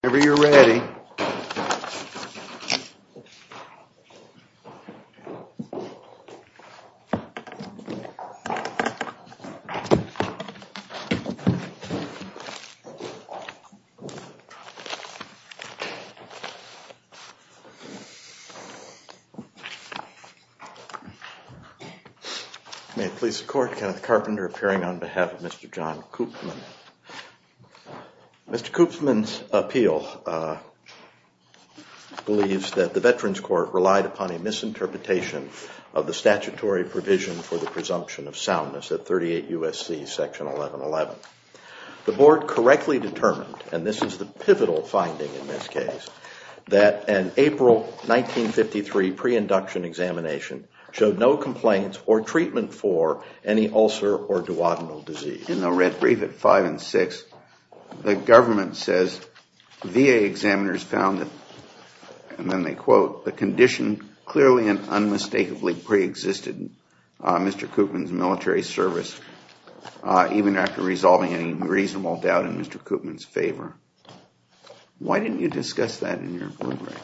Whenever you're ready. May it please the court, Kenneth Carpenter appearing on behalf of Mr. John Koopmans. Mr. Koopmans' appeal believes that the Veterans Court relied upon a misinterpretation of the statutory provision for the presumption of soundness at 38 U.S.C. section 1111. The board correctly determined, and this is the pivotal finding in this case, that an April 1953 pre-induction examination showed no complaints or treatment for any ulcer or duodenal disease. In the red brief at 5 and 6, the government says VA examiners found, and then they quote, the condition clearly and unmistakably pre-existed Mr. Koopmans' military service, even after resolving any reasonable doubt in Mr. Koopmans' favor. Why didn't you discuss that in your blueprint?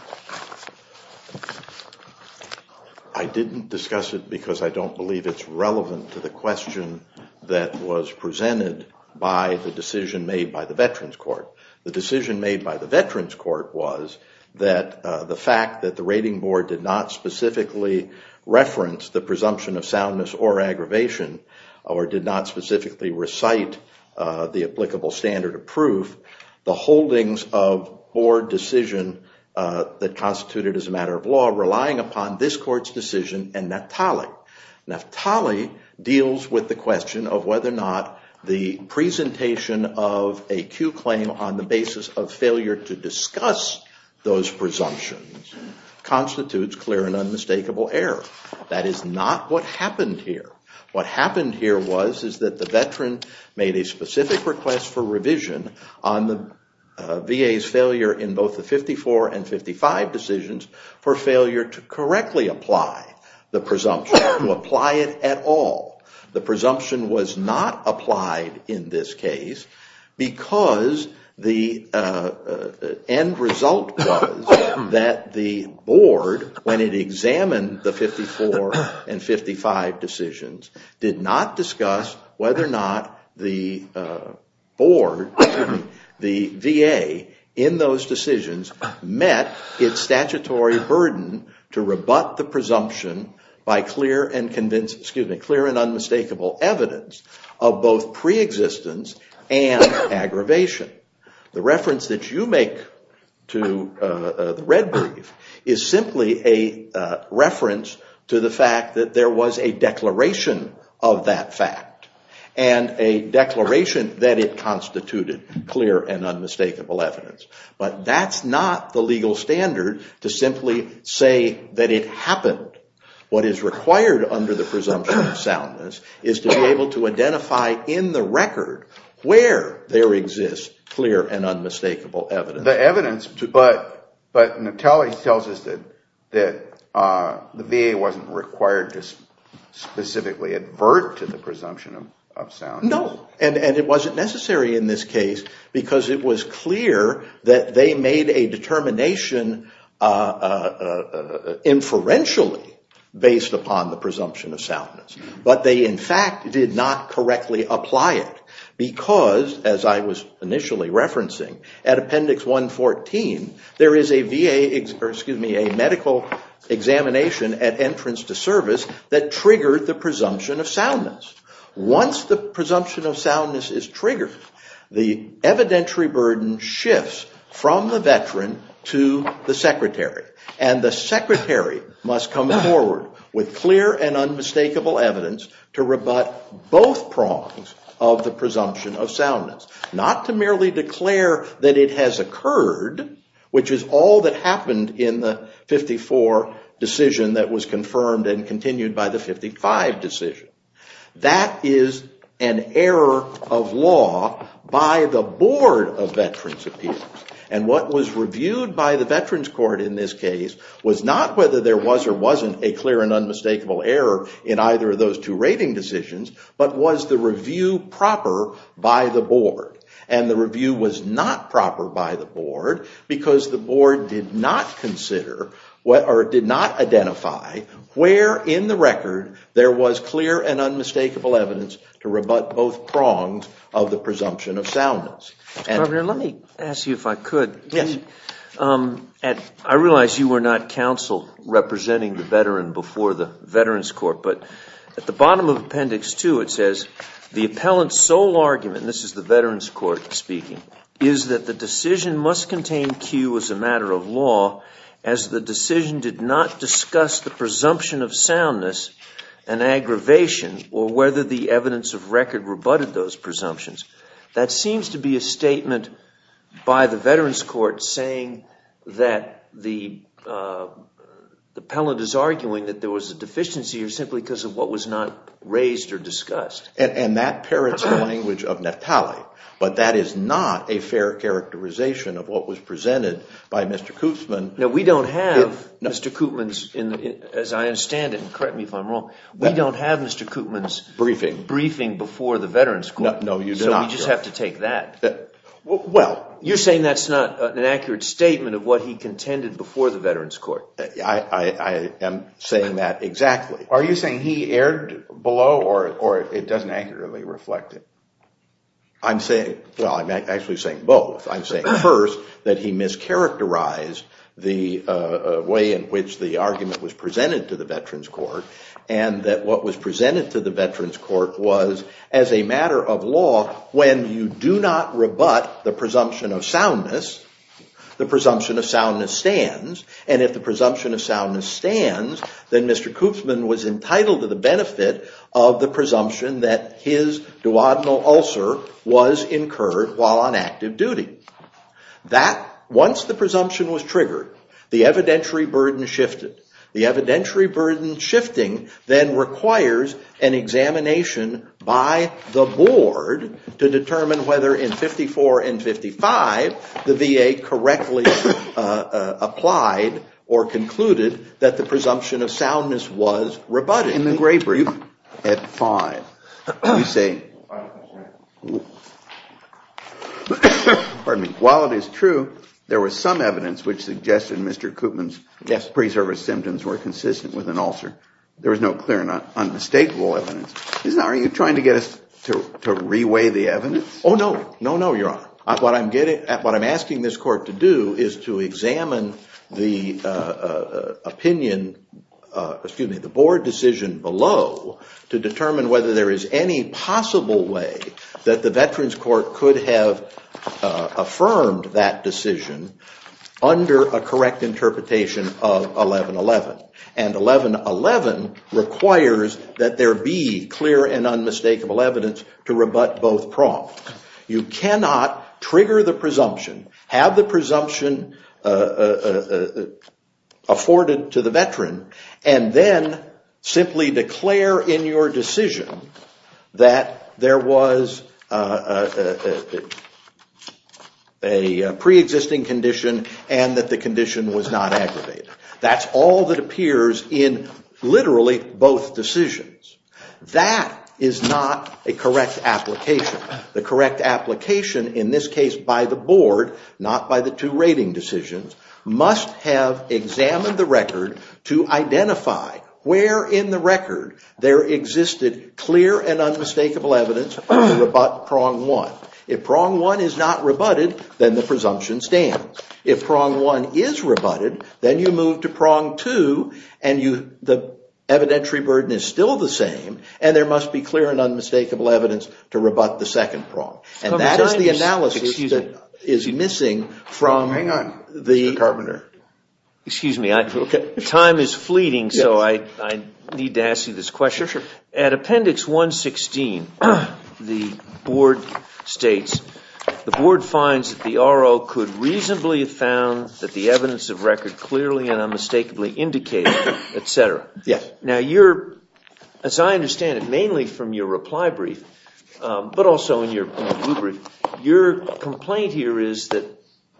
I didn't discuss it because I don't believe it's relevant to the question that was presented by the decision made by the Veterans Court. The decision made by the Veterans Court was that the fact that the rating board did not specifically reference the presumption of soundness or aggravation, or did not specifically recite the applicable standard of proof, the holdings of board decision that constituted as a matter of law relying upon this court's decision and Naftali. Naftali deals with the question of whether or not the presentation of a Q claim on the basis of failure to discuss those presumptions constitutes clear and unmistakable error. That is not what happened here. What happened here was that the veteran made a specific request for revision on the VA's failure in both the 54 and 55 decisions for failure to correctly apply the presumption, to apply it at all. The presumption was not applied in this case because the end result was that the board, when it examined the 54 and 55 decisions, did not discuss whether or not the board, the VA, in those decisions met its statutory burden to rebut the presumption by clear and unmistakable error. Clear and unmistakable evidence of both pre-existence and aggravation. The reference that you make to the red brief is simply a reference to the fact that there was a declaration of that fact and a declaration that it constituted clear and unmistakable evidence. But that's not the legal standard to simply say that it happened. What is required under the presumption of soundness is to be able to identify in the record where there exists clear and unmistakable evidence. The evidence, but Naftali tells us that the VA wasn't required to specifically advert to the presumption of soundness. No, and it wasn't necessary in this case because it was clear that they made a determination inferentially based upon the presumption of soundness. But they, in fact, did not correctly apply it because, as I was initially referencing, at Appendix 114, there is a medical examination at entrance to service that triggered the presumption of soundness. Once the presumption of soundness is triggered, the evidentiary burden shifts from the veteran to the secretary. And the secretary must come forward with clear and unmistakable evidence to rebut both prongs of the presumption of soundness. Not to merely declare that it has occurred, which is all that happened in the 54 decision that was confirmed and continued by the 55 decision. That is an error of law by the Board of Veterans Appeals. And what was reviewed by the Veterans Court in this case was not whether there was or wasn't a clear and unmistakable error in either of those two rating decisions, but was the review proper by the board. And the review was not proper by the board because the board did not consider or did not identify where in the record there was clear and unmistakable evidence to rebut both prongs of the presumption of soundness. Let me ask you if I could. I realize you were not counsel representing the veteran before the Veterans Court, but at the bottom of Appendix 2, it says the appellant's sole argument, this is the Veterans Court speaking, is that the decision must contain cue as a matter of law as the decision did not discuss the presumption of soundness and aggravation or whether the evidence of record rebutted those presumptions. That seems to be a statement by the Veterans Court saying that the appellant is arguing that there was a deficiency or simply because of what was not raised or discussed. And that parrots the language of Naftali, but that is not a fair characterization of what was presented by Mr. Koopman. No, we don't have Mr. Koopman's, as I understand it, and correct me if I'm wrong, we don't have Mr. Koopman's briefing before the Veterans Court. No, you do not. So we just have to take that. Well. You're saying that's not an accurate statement of what he contended before the Veterans Court. I am saying that exactly. Are you saying he erred below or it doesn't accurately reflect it? Well, I'm actually saying both. I'm saying first that he mischaracterized the way in which the argument was presented to the Veterans Court and that what was presented to the Veterans Court was as a matter of law when you do not rebut the presumption of soundness, the presumption of soundness stands. And if the presumption of soundness stands, then Mr. Koopman was entitled to the benefit of the presumption that his duodenal ulcer was incurred while on active duty. Once the presumption was triggered, the evidentiary burden shifted. The evidentiary burden shifting then requires an examination by the board to determine whether in 54 and 55, the VA correctly applied or concluded that the presumption of soundness was rebutted. In the Gray Brief, at 5, you say, pardon me, while it is true, there was some evidence which suggested Mr. Koopman's preservative. There was no clear and unmistakable evidence. Are you trying to get us to reweigh the evidence? Oh, no. No, no, Your Honor. What I'm asking this court to do is to examine the opinion, excuse me, the board decision below to determine whether there is any possible way that the Veterans Court could have affirmed that decision under a correct interpretation of 1111. And 1111 requires that there be clear and unmistakable evidence to rebut both prompts. You cannot trigger the presumption, have the presumption afforded to the Veteran, and then simply declare in your decision that there was a preexisting condition and that the condition was not aggravated. That's all that appears in literally both decisions. That is not a correct application. The correct application in this case by the board, not by the two rating decisions, must have examined the record to identify where in the record there existed clear and unmistakable evidence to rebut prong one. If prong one is not rebutted, then the presumption stands. If prong one is rebutted, then you move to prong two, and the evidentiary burden is still the same, and there must be clear and unmistakable evidence to rebut the second prong. And that is the analysis that is missing from the… Hang on, Mr. Carpenter. Excuse me, time is fleeting, so I need to ask you this question. Sure, sure. At Appendix 116, the board states, the board finds that the RO could reasonably have found that the evidence of record clearly and unmistakably indicated, etc. Yes. Now you're, as I understand it, mainly from your reply brief, but also in your blue brief, your complaint here is that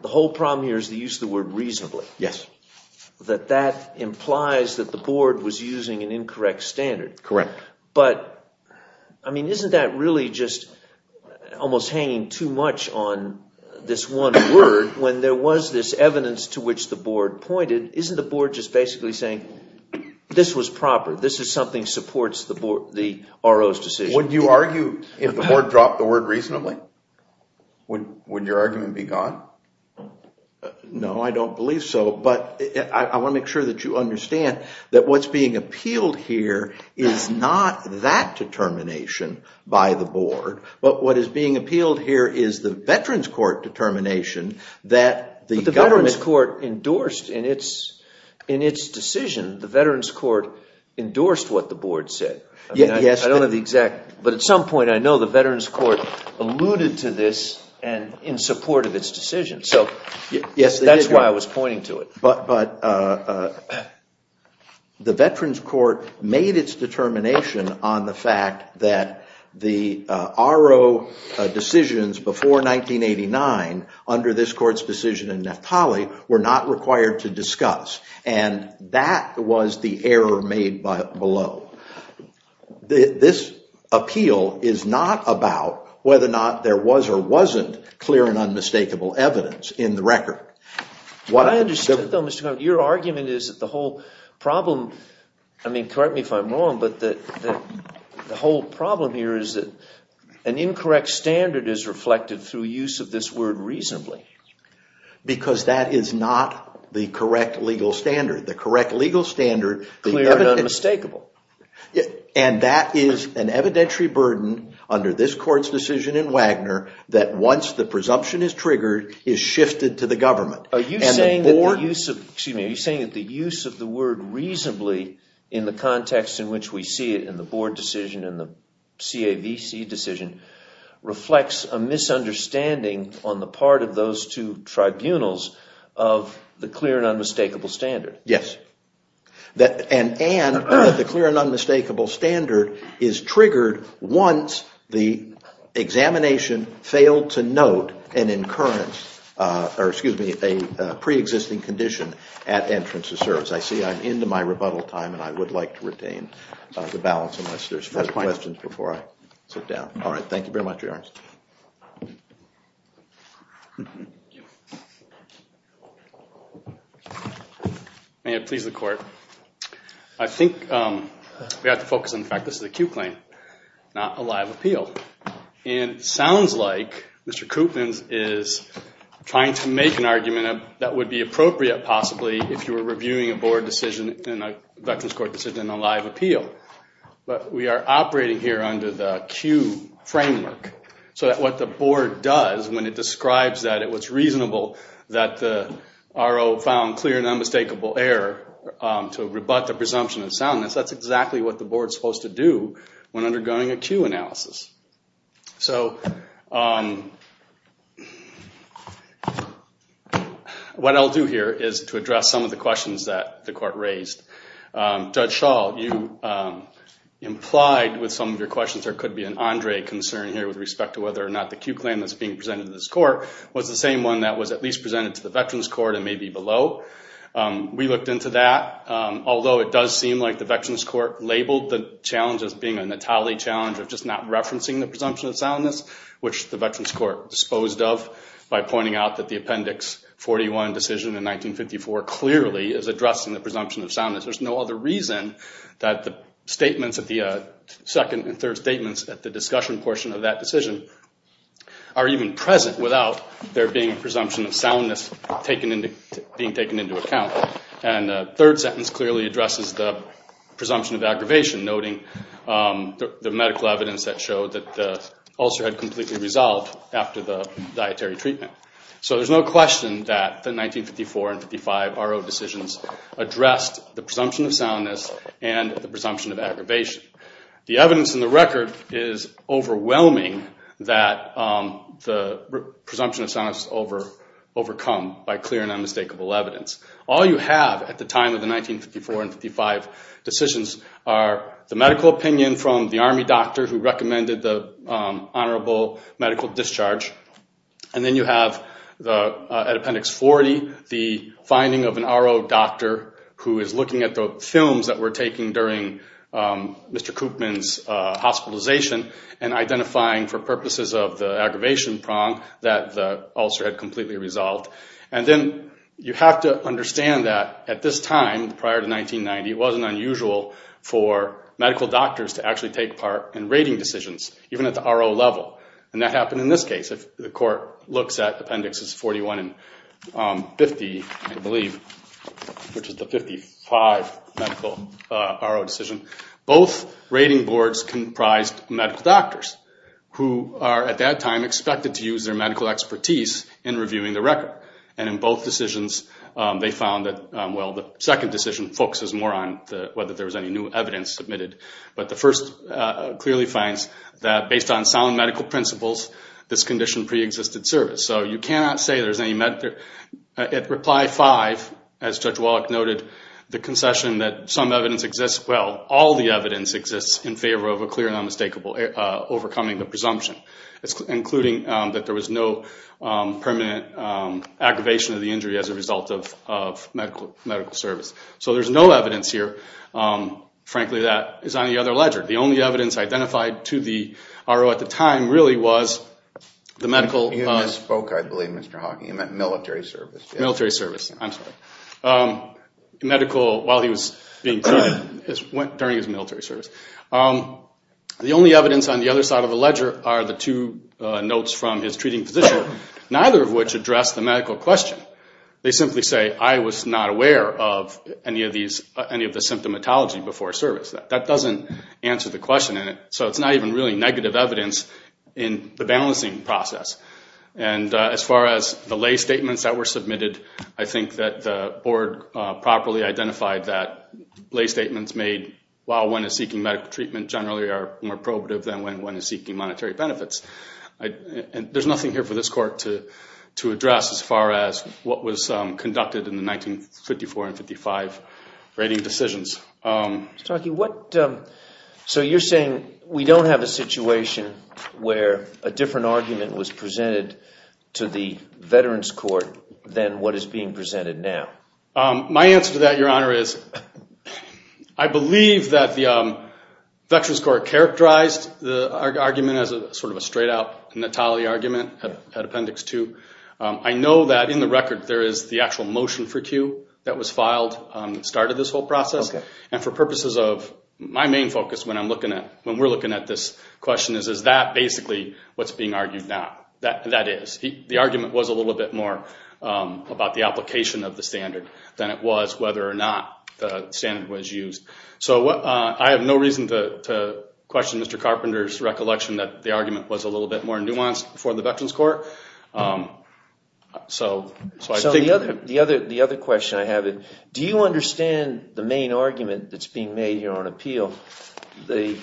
the whole problem here is the use of the word reasonably. Yes. That that implies that the board was using an incorrect standard. Correct. But, I mean, isn't that really just almost hanging too much on this one word when there was this evidence to which the board pointed? Isn't the board just basically saying, this was proper, this is something that supports the RO's decision? Would you argue if the board dropped the word reasonably? Would your argument be gone? No, I don't believe so, but I want to make sure that you understand that what's being appealed here is not that determination by the board, but what is being appealed here is the veterans court determination that the government… But the veterans court endorsed in its decision, the veterans court endorsed what the board said. Yes. But at some point, I know the veterans court alluded to this in support of its decision, so that's why I was pointing to it. But the veterans court made its determination on the fact that the RO decisions before 1989, under this court's decision in Naftali, were not required to discuss. And that was the error made below. This appeal is not about whether or not there was or wasn't clear and unmistakable evidence in the record. I understand, though, Mr. Connery. Your argument is that the whole problem, I mean, correct me if I'm wrong, but the whole problem here is that an incorrect standard is reflected through use of this word reasonably. Because that is not the correct legal standard. The correct legal standard… Clear and unmistakable. And that is an evidentiary burden under this court's decision in Wagner that, once the presumption is triggered, is shifted to the government. Are you saying that the use of the word reasonably in the context in which we see it in the board decision and the CAVC decision reflects a misunderstanding on the part of those two tribunals of the clear and unmistakable standard? Yes. And that the clear and unmistakable standard is triggered once the examination failed to note an incurrence, or excuse me, a preexisting condition at entrance of service. I see I'm into my rebuttal time, and I would like to retain the balance unless there's further questions before I sit down. All right. Thank you very much, Your Honor. Thank you. May it please the Court. I think we have to focus on the fact this is a Q claim, not a live appeal. And it sounds like Mr. Koopmans is trying to make an argument that would be appropriate, possibly, if you were reviewing a board decision in a Veterans Court decision in a live appeal. But we are operating here under the Q framework. So that what the board does when it describes that it was reasonable that the RO found clear and unmistakable error to rebut the presumption of soundness, that's exactly what the board's supposed to do when undergoing a Q analysis. So what I'll do here is to address some of the questions that the Court raised. Judge Schall, you implied with some of your questions there could be an Andre concern here with respect to whether or not the Q claim that's being presented to this Court was the same one that was at least presented to the Veterans Court and maybe below. We looked into that. Although it does seem like the Veterans Court labeled the challenge as being a Natale challenge of just not referencing the presumption of soundness, which the Veterans Court disposed of by pointing out that the Appendix 41 decision in 1954 clearly is addressing the presumption of soundness. There's no other reason that the statements at the second and third statements at the discussion portion of that decision are even present without there being a presumption of soundness being taken into account. The third sentence clearly addresses the presumption of aggravation, noting the medical evidence that showed that the ulcer had completely resolved after the dietary treatment. So there's no question that the 1954 and 55 RO decisions addressed the presumption of soundness and the presumption of aggravation. The evidence in the record is overwhelming that the presumption of soundness is overcome by clear and unmistakable evidence. All you have at the time of the 1954 and 55 decisions are the medical opinion from the Army doctor who recommended the honorable medical discharge. And then you have at Appendix 40 the finding of an RO doctor who is looking at the films that were taken during Mr. Koopman's hospitalization and identifying for purposes of the aggravation prong that the ulcer had completely resolved. And then you have to understand that at this time, prior to 1990, it wasn't unusual for medical doctors to actually take part in rating decisions, even at the RO level. And that happened in this case. If the court looks at Appendix 41 and 50, I believe, which is the 55 medical RO decision, both rating boards comprised medical doctors who are at that time expected to use their medical expertise in reviewing the record. And in both decisions, they found that, well, the second decision focuses more on whether there was any new evidence submitted. But the first clearly finds that based on sound medical principles, this condition preexisted service. So you cannot say there's any medical – at Reply 5, as Judge Wallach noted, the concession that some evidence exists – well, all the evidence exists in favor of a clear and unmistakable – overcoming the presumption. It's including that there was no permanent aggravation of the injury as a result of medical service. So there's no evidence here, frankly, that is on the other ledger. The only evidence identified to the RO at the time really was the medical – You misspoke, I believe, Mr. Hawking. You meant military service. Military service. I'm sorry. Medical – well, he was being treated during his military service. The only evidence on the other side of the ledger are the two notes from his treating physician, neither of which address the medical question. They simply say, I was not aware of any of the symptomatology before service. That doesn't answer the question in it. So it's not even really negative evidence in the balancing process. And as far as the lay statements that were submitted, I think that the board properly identified that lay statements made while one is seeking medical treatment generally are more probative than when one is seeking monetary benefits. And there's nothing here for this court to address as far as what was conducted in the 1954 and 55 rating decisions. Mr. Hawking, what – so you're saying we don't have a situation where a different argument was presented to the Veterans Court than what is being presented now? My answer to that, Your Honor, is I believe that the Veterans Court characterized the argument as sort of a straight-out Natale argument at Appendix 2. I know that in the record there is the actual motion for Q that was filed that started this whole process. And for purposes of – my main focus when I'm looking at – when we're looking at this question is, is that basically what's being argued now? That is. The argument was a little bit more about the application of the standard than it was whether or not the standard was used. So I have no reason to question Mr. Carpenter's recollection that the argument was a little bit more nuanced for the Veterans Court. So I think – So the other question I have is, do you understand the main argument that's being made here on appeal? The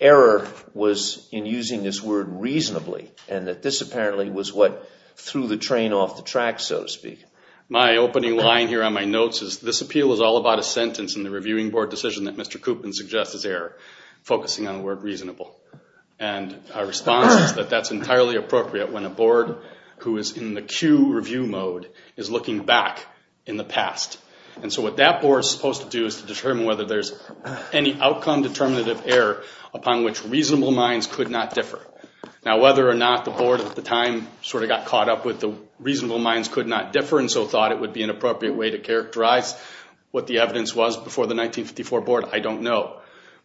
error was in using this word reasonably and that this apparently was what threw the train off the track, so to speak. My opening line here on my notes is this appeal is all about a sentence in the reviewing board decision that Mr. Coopman suggests is error, focusing on the word reasonable. And our response is that that's entirely appropriate when a board who is in the Q review mode is looking back in the past. And so what that board is supposed to do is to determine whether there's any outcome determinative error upon which reasonable minds could not differ. Now whether or not the board at the time sort of got caught up with the reasonable minds could not differ and so thought it would be an appropriate way to characterize what the evidence was before the 1954 board, I don't know.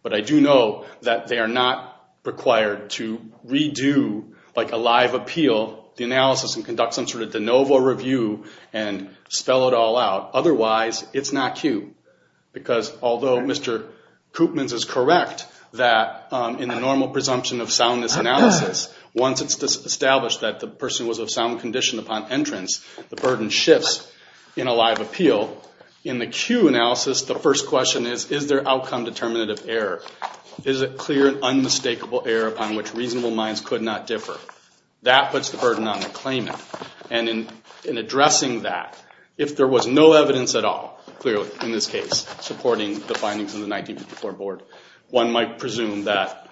But I do know that they are not required to redo like a live appeal, the analysis and conduct some sort of de novo review and spell it all out. Otherwise, it's not Q. Because although Mr. Coopman is correct that in the normal presumption of soundness analysis, once it's established that the person was of sound condition upon entrance, the burden shifts in a live appeal. So in the Q analysis, the first question is, is there outcome determinative error? Is it clear and unmistakable error upon which reasonable minds could not differ? That puts the burden on the claimant. And in addressing that, if there was no evidence at all, clearly in this case, supporting the findings of the 1954 board, one might presume that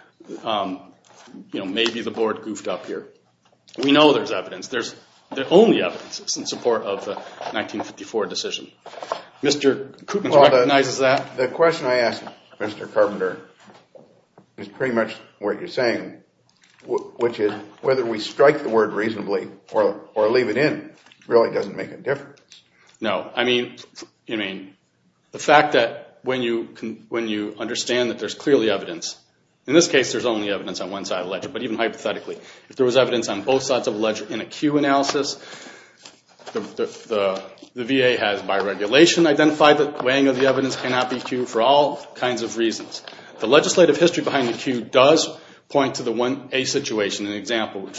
maybe the board goofed up here. We know there's evidence. There's only evidence in support of the 1954 decision. Mr. Coopman recognizes that. The question I asked Mr. Carpenter is pretty much what you're saying, which is whether we strike the word reasonably or leave it in really doesn't make a difference. No. I mean, the fact that when you understand that there's clearly evidence, in this case there's only evidence on one side of the ledger, but even hypothetically, if there was evidence on both sides of the ledger in a Q analysis, the VA has by regulation identified that weighing of the evidence cannot be Q for all kinds of reasons. The legislative history behind the Q does point to the 1A situation. An example,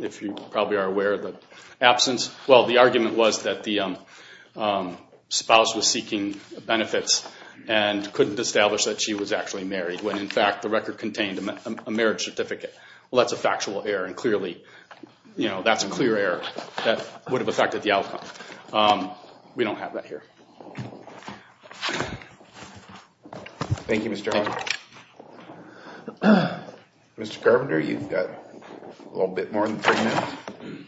if you probably are aware of the absence, well, the argument was that the spouse was seeking benefits and couldn't establish that she was actually married when, in fact, the record contained a marriage certificate. Well, that's a factual error, and clearly that's a clear error that would have affected the outcome. We don't have that here. Thank you, Mr. Hart. Mr. Carpenter, you've got a little bit more than three minutes.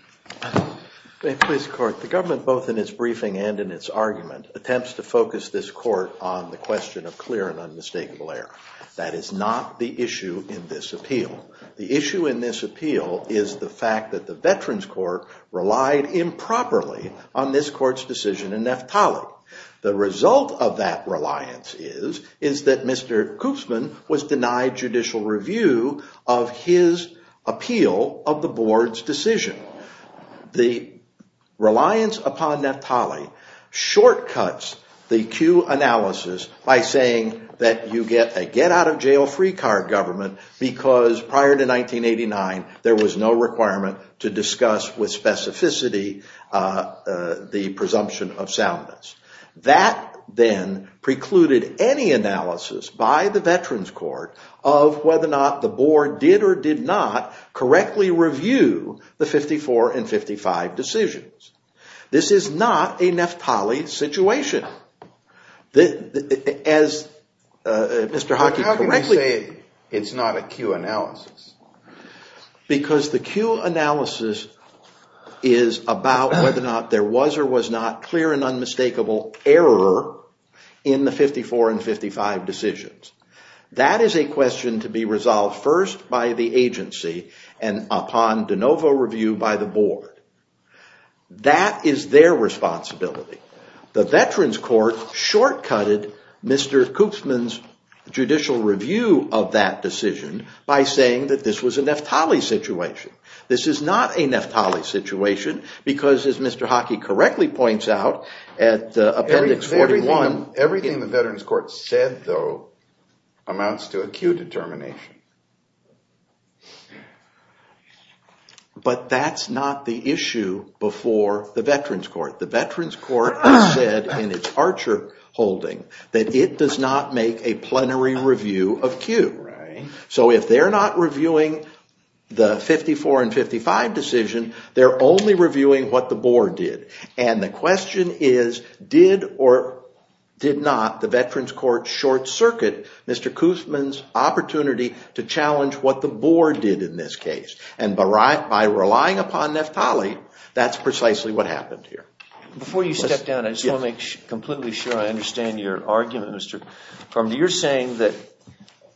Please, Court. The government, both in its briefing and in its argument, attempts to focus this court on the question of clear and unmistakable error. That is not the issue in this appeal. The issue in this appeal is the fact that the Veterans Court relied improperly on this court's decision in Naftali. The result of that reliance is that Mr. Koopsman was denied judicial review of his appeal of the board's decision. The reliance upon Naftali shortcuts the Q analysis by saying that you get a get-out-of-jail-free card government because prior to 1989 there was no requirement to discuss with specificity the presumption of soundness. That then precluded any analysis by the Veterans Court of whether or not the board did or did not correctly review the 54 and 55 decisions. This is not a Naftali situation. How can you say it's not a Q analysis? Because the Q analysis is about whether or not there was or was not clear and unmistakable error in the 54 and 55 decisions. That is a question to be resolved first by the agency and upon de novo review by the board. That is their responsibility. The Veterans Court shortcutted Mr. Koopsman's judicial review of that decision by saying that this was a Naftali situation. This is not a Naftali situation because as Mr. Hockey correctly points out at appendix 41. Everything the Veterans Court said though amounts to a Q determination. But that's not the issue before the Veterans Court. The Veterans Court has said in its Archer holding that it does not make a plenary review of Q. So if they're not reviewing the 54 and 55 decision, they're only reviewing what the board did. And the question is, did or did not the Veterans Court short circuit Mr. Koopsman's opportunity to challenge what the board did in this case? And by relying upon Naftali, that's precisely what happened here. Before you step down, I just want to make completely sure I understand your argument, Mr. Farmer. You're saying that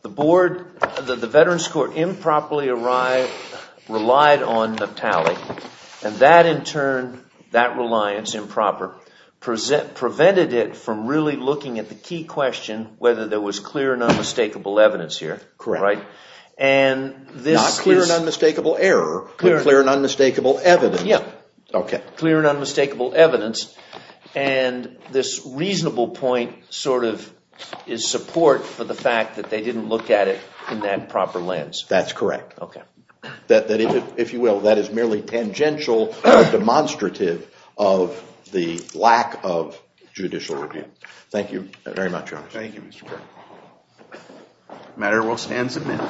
the Veterans Court improperly relied on Naftali. And that in turn, that reliance improper, prevented it from really looking at the key question whether there was clear and unmistakable evidence here. Correct. Not clear and unmistakable error, but clear and unmistakable evidence. Clear and unmistakable evidence. And this reasonable point sort of is support for the fact that they didn't look at it in that proper lens. That's correct. If you will, that is merely tangential or demonstrative of the lack of judicial review. Thank you very much, Your Honor. Thank you, Mr. Farmer. The matter will stand submitted.